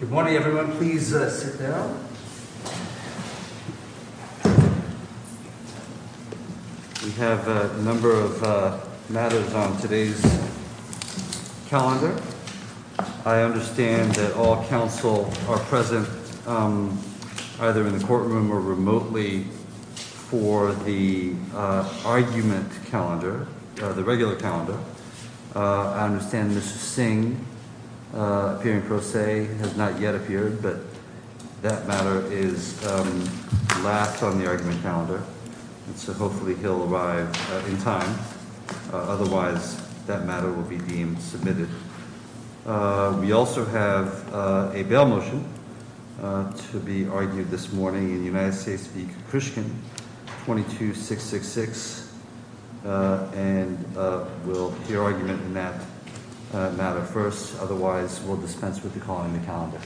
Good morning, everyone. Please sit down. We have a number of matters on today's calendar. I understand that all counsel are present either in the courtroom or remotely for the argument calendar, the regular calendar. I understand Mr. Singh, appearing pro se, has not yet appeared, but that matter is last on the argument calendar. So hopefully he'll arrive in time. Otherwise, that matter will be deemed submitted. We also have a bail motion to be argued this morning in United States v. Kukushkin, 22666. And we'll hear argument in that matter first. Otherwise, we'll dispense with the call in the calendar.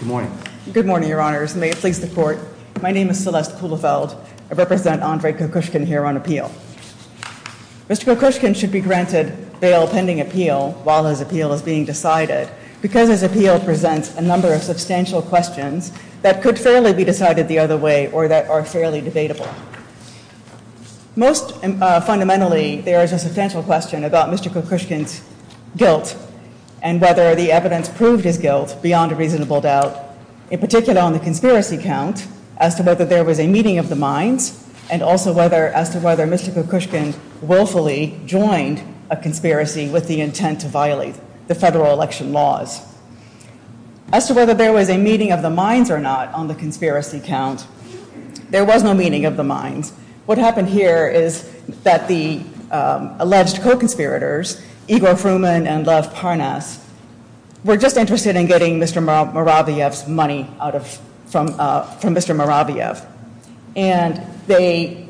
Good morning. Good morning, Your Honors. May it please the Court. My name is Celeste Kuhlefeld. I represent Andre Kukushkin here on appeal. Mr. Kukushkin should be granted bail pending appeal while his appeal is being decided because his appeal presents a number of substantial questions that could fairly be decided the other way or that are fairly debatable. Most fundamentally, there is a substantial question about Mr. Kukushkin's guilt and whether the evidence proved his guilt beyond a reasonable doubt, in particular on the conspiracy count, as to whether there was a meeting of the minds, and also as to whether Mr. Kukushkin willfully joined a conspiracy with the intent to violate the federal election laws. As to whether there was a meeting of the minds or not on the conspiracy count, there was no meeting of the minds. What happened here is that the alleged co-conspirators, Igor Fruman and Lev Parnas, were just interested in getting Mr. Moraviev's money from Mr. Moraviev. And they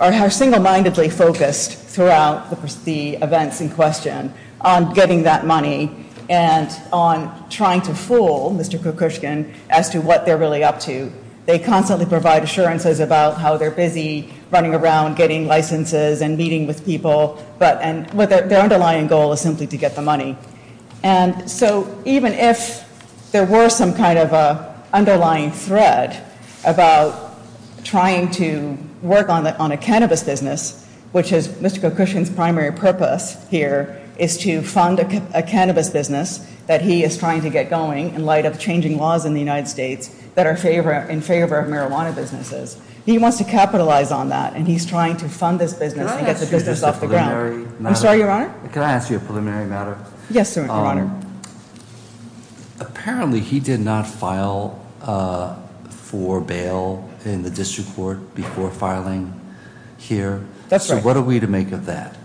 are single-mindedly focused throughout the events in question on getting that money and on trying to fool Mr. Kukushkin as to what they're really up to. They constantly provide assurances about how they're busy running around getting licenses and meeting with people, but their underlying goal is simply to get the money. And so even if there were some kind of an underlying thread about trying to work on a cannabis business, which is Mr. Kukushkin's primary purpose here, is to fund a cannabis business that he is trying to get going in light of changing laws in the United States that are in favor of marijuana businesses. He wants to capitalize on that, and he's trying to fund this business and get the business off the ground. I'm sorry, Your Honor? Can I ask you a preliminary matter? Yes, sir, Your Honor. Apparently, he did not file for bail in the district court before filing here. That's right. So what are we to make of that?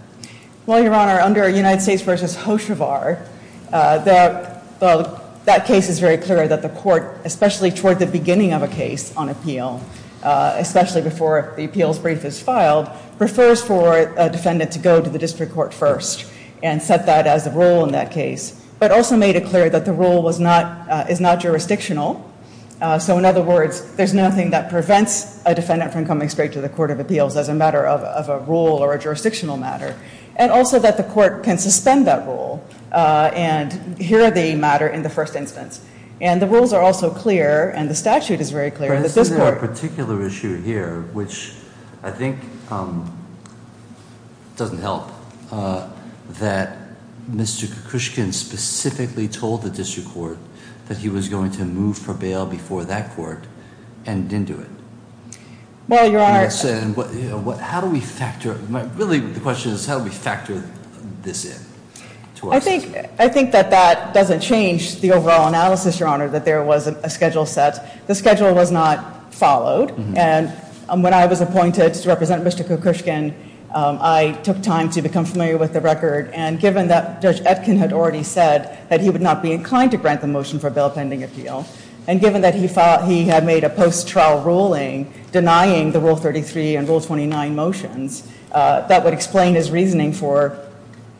Well, Your Honor, under United States v. Hoshevar, that case is very clear that the court, especially toward the beginning of a case on appeal, especially before the appeals brief is filed, prefers for a defendant to go to the district court first and set that as a rule in that case, but also made it clear that the rule is not jurisdictional. So in other words, there's nothing that prevents a defendant from coming straight to the court of appeals as a matter of a rule or a jurisdictional matter, and also that the court can suspend that rule and hear the matter in the first instance. And the rules are also clear, and the statute is very clear that this court- Well, Your Honor- How do we factor- Really, the question is how do we factor this in to us? I think that that doesn't change the overall analysis, Your Honor, that there was a schedule set. The schedule was not followed, and when I was appointed to represent Mr. Kokushkin, I took time to become familiar with the record. And given that Judge Etkin had already said that he would not be inclined to grant the motion for a bail pending appeal, and given that he had made a post-trial ruling denying the Rule 33 and Rule 29 motions, that would explain his reasoning for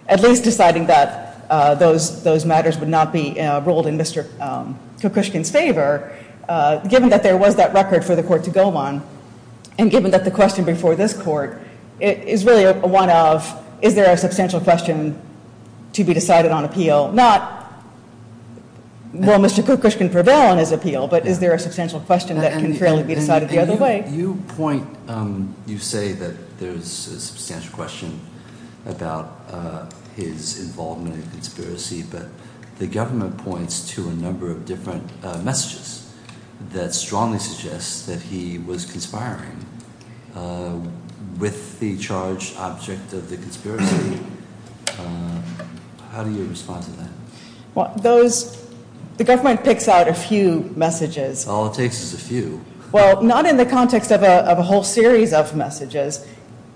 at least deciding that those matters would not be ruled in Mr. Kokushkin's favor. Given that there was that record for the court to go on, and given that the question before this court is really one of, is there a substantial question to be decided on appeal? Not will Mr. Kokushkin prevail on his appeal, but is there a substantial question that can fairly be decided the other way? You point, you say that there's a substantial question about his involvement in the conspiracy, but the government points to a number of different messages that strongly suggest that he was conspiring with the charged object of the conspiracy. How do you respond to that? Those, the government picks out a few messages. All it takes is a few. Well, not in the context of a whole series of messages,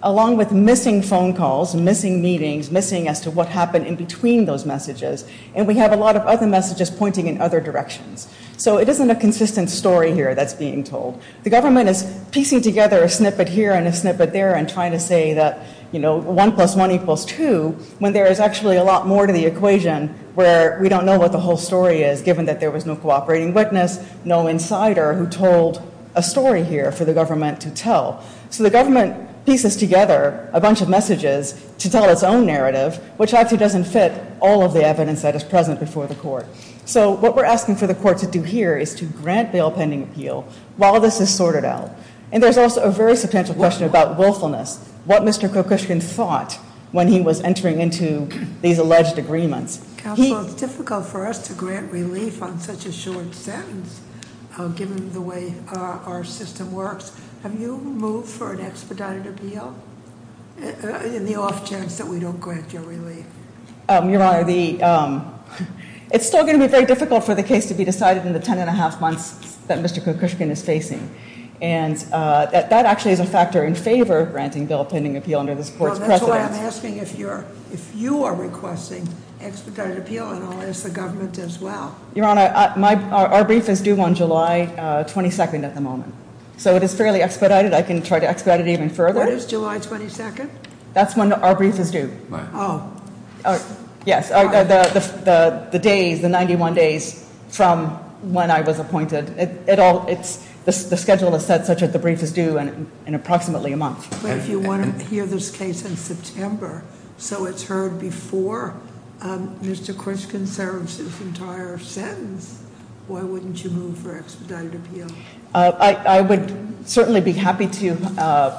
along with missing phone calls, missing meetings, missing as to what happened in between those messages, and we have a lot of other messages pointing in other directions. So it isn't a consistent story here that's being told. The government is piecing together a snippet here and a snippet there and trying to say that, you know, one plus one equals two when there is actually a lot more to the equation where we don't know what the whole story is, given that there was no cooperating witness, no insider who told a story here for the government to tell. So the government pieces together a bunch of messages to tell its own narrative, which actually doesn't fit all of the evidence that is present before the court. So what we're asking for the court to do here is to grant bail pending appeal while this is sorted out. And there's also a very substantial question about willfulness, what Mr. Kokushkin thought when he was entering into these alleged agreements. Counsel, it's difficult for us to grant relief on such a short sentence, given the way our system works. Have you moved for an expedited appeal in the off chance that we don't grant you relief? Your Honor, it's still going to be very difficult for the case to be decided in the ten and a half months that Mr. Kokushkin is facing. And that actually is a factor in favor of granting bail pending appeal under this court's precedent. That's why I'm asking if you are requesting expedited appeal, and I'll ask the government as well. Your Honor, our brief is due on July 22nd at the moment. So it is fairly expedited, I can try to expedite it even further. When is July 22nd? That's when our brief is due. Right. Yes, the days, the 91 days from when I was appointed. The schedule is set such that the brief is due in approximately a month. But if you want to hear this case in September, so it's heard before Mr. Kriskin serves his entire sentence, why wouldn't you move for expedited appeal? I would certainly be happy to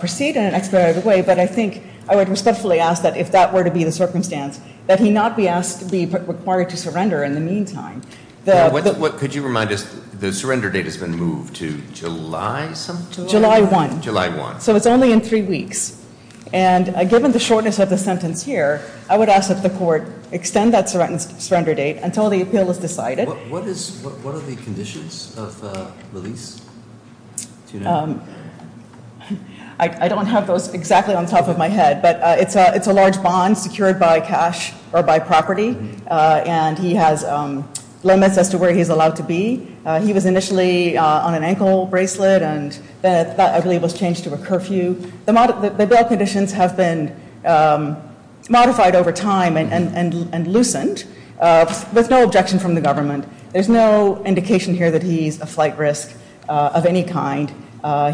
proceed in an expedited way, but I think I would respectfully ask that if that were to be the circumstance, that he not be asked to be required to surrender in the meantime. What could you remind us, the surrender date has been moved to July? July 1. July 1. So it's only in three weeks. And given the shortness of the sentence here, I would ask that the court extend that surrender date until the appeal is decided. What are the conditions of release? I don't have those exactly on top of my head, but it's a large bond secured by cash or by property, and he has limits as to where he's allowed to be. He was initially on an ankle bracelet, and that, I believe, was changed to a curfew. The bail conditions have been modified over time and loosened. There's no objection from the government. There's no indication here that he's a flight risk of any kind.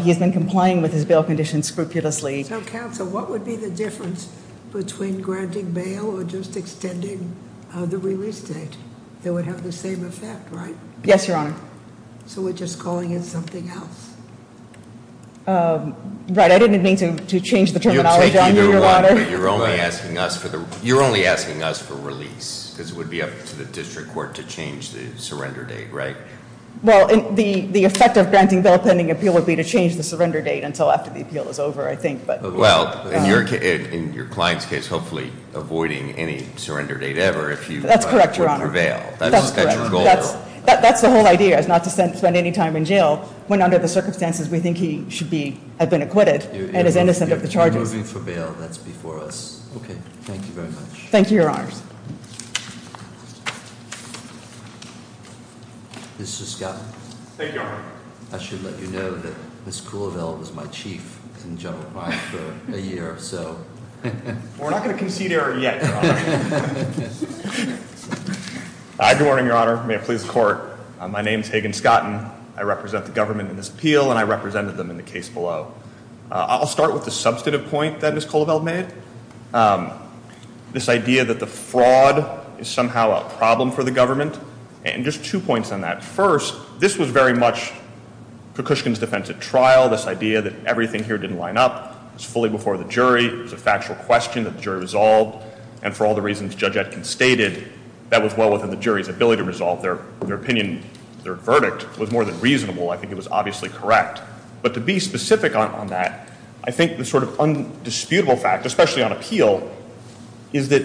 He has been complying with his bail conditions scrupulously. So, counsel, what would be the difference between granting bail or just extending the release date? They would have the same effect, right? Yes, Your Honor. So we're just calling in something else? Right. I didn't mean to change the terminology on you, Your Honor. You're only asking us for release because it would be up to the district court to change the surrender date, right? Well, the effect of granting bail pending appeal would be to change the surrender date until after the appeal is over, I think. Well, in your client's case, hopefully avoiding any surrender date ever if you- That's correct, Your Honor. That's the whole idea, is not to spend any time in jail when under the circumstances we think he should have been acquitted and is innocent of the charges. You're moving for bail. That's before us. Okay. Thank you very much. Thank you, Your Honors. Mr. Scott? Thank you, Your Honor. I should let you know that Ms. Cooleville was my chief in general crime for a year or so. We're not going to concede error yet, Your Honor. Good morning, Your Honor. May it please the court. My name is Hagan Scotton. I represent the government in this appeal, and I represented them in the case below. I'll start with the substantive point that Ms. Cooleville made, this idea that the fraud is somehow a problem for the government. And just two points on that. First, this was very much Kukushkin's defense at trial, this idea that everything here didn't line up. It was fully before the jury. It was a factual question that the jury resolved. And for all the reasons Judge Etkin stated, that was well within the jury's ability to resolve their opinion. Their verdict was more than reasonable. I think it was obviously correct. But to be specific on that, I think the sort of undisputable fact, especially on appeal, is that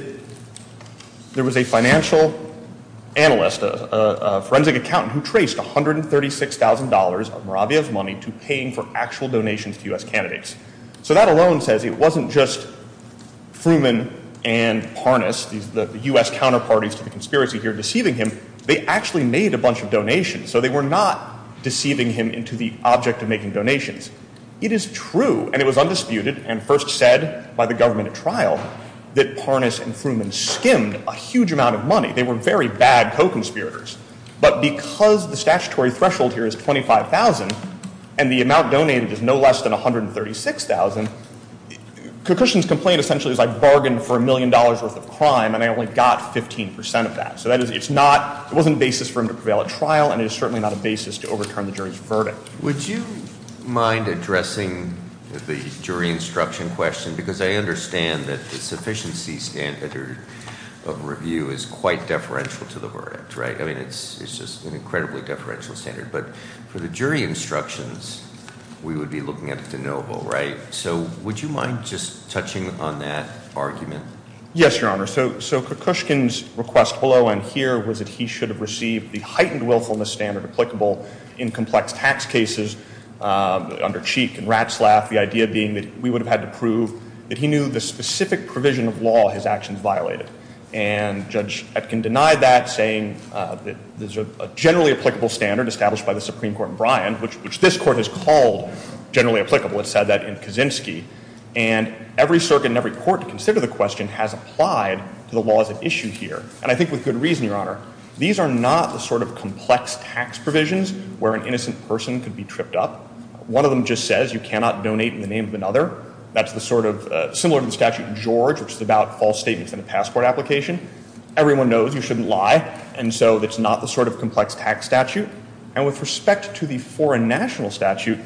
there was a financial analyst, a forensic accountant, who traced $136,000 of Moravia's money to paying for actual donations to U.S. candidates. So that alone says it wasn't just Fruman and Parnas, the U.S. counterparties to the conspiracy here, deceiving him. So they were not deceiving him into the object of making donations. It is true, and it was undisputed and first said by the government at trial, that Parnas and Fruman skimmed a huge amount of money. They were very bad co-conspirators. But because the statutory threshold here is $25,000 and the amount donated is no less than $136,000, Kukushkin's complaint essentially is I bargained for a million dollars worth of crime and I only got 15% of that. So it wasn't a basis for him to prevail at trial, and it is certainly not a basis to overturn the jury's verdict. Would you mind addressing the jury instruction question? Because I understand that the sufficiency standard of review is quite deferential to the verdict, right? I mean, it's just an incredibly deferential standard. But for the jury instructions, we would be looking at de novo, right? So would you mind just touching on that argument? Yes, Your Honor. So Kukushkin's request below and here was that he should have received the heightened willfulness standard applicable in complex tax cases under Cheek and Ratzlaff, the idea being that we would have had to prove that he knew the specific provision of law his actions violated. And Judge Etkin denied that, saying that there's a generally applicable standard established by the Supreme Court in Bryan, which this Court has called generally applicable. It said that in Kaczynski. And every circuit and every court to consider the question has applied to the laws at issue here. And I think with good reason, Your Honor. These are not the sort of complex tax provisions where an innocent person could be tripped up. One of them just says you cannot donate in the name of another. That's the sort of similar to the statute George, which is about false statements in a passport application. Everyone knows you shouldn't lie, and so it's not the sort of complex tax statute. And with respect to the foreign national statute,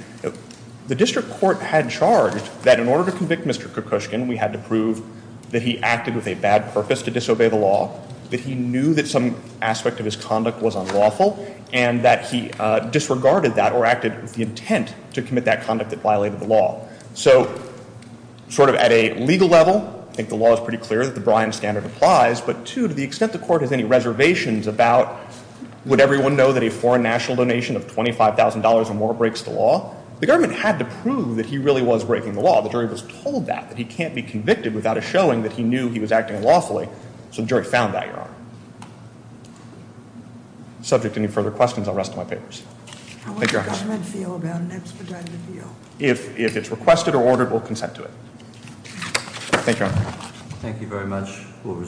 the district court had charged that in order to convict Mr. Kukushkin, we had to prove that he acted with a bad purpose to disobey the law, that he knew that some aspect of his conduct was unlawful, and that he disregarded that or acted with the intent to commit that conduct that violated the law. So sort of at a legal level, I think the law is pretty clear that the Bryan standard applies. But two, to the extent the court has any reservations about, would everyone know that a foreign national donation of $25,000 or more breaks the law? The government had to prove that he really was breaking the law. The jury was told that, that he can't be convicted without a showing that he knew he was acting lawfully. So the jury found that, Your Honor. Subject to any further questions, I'll rest my papers. Thank you, Your Honor. How would the government feel about an expedited appeal? If it's requested or ordered, we'll consent to it. Thank you, Your Honor. Thank you very much.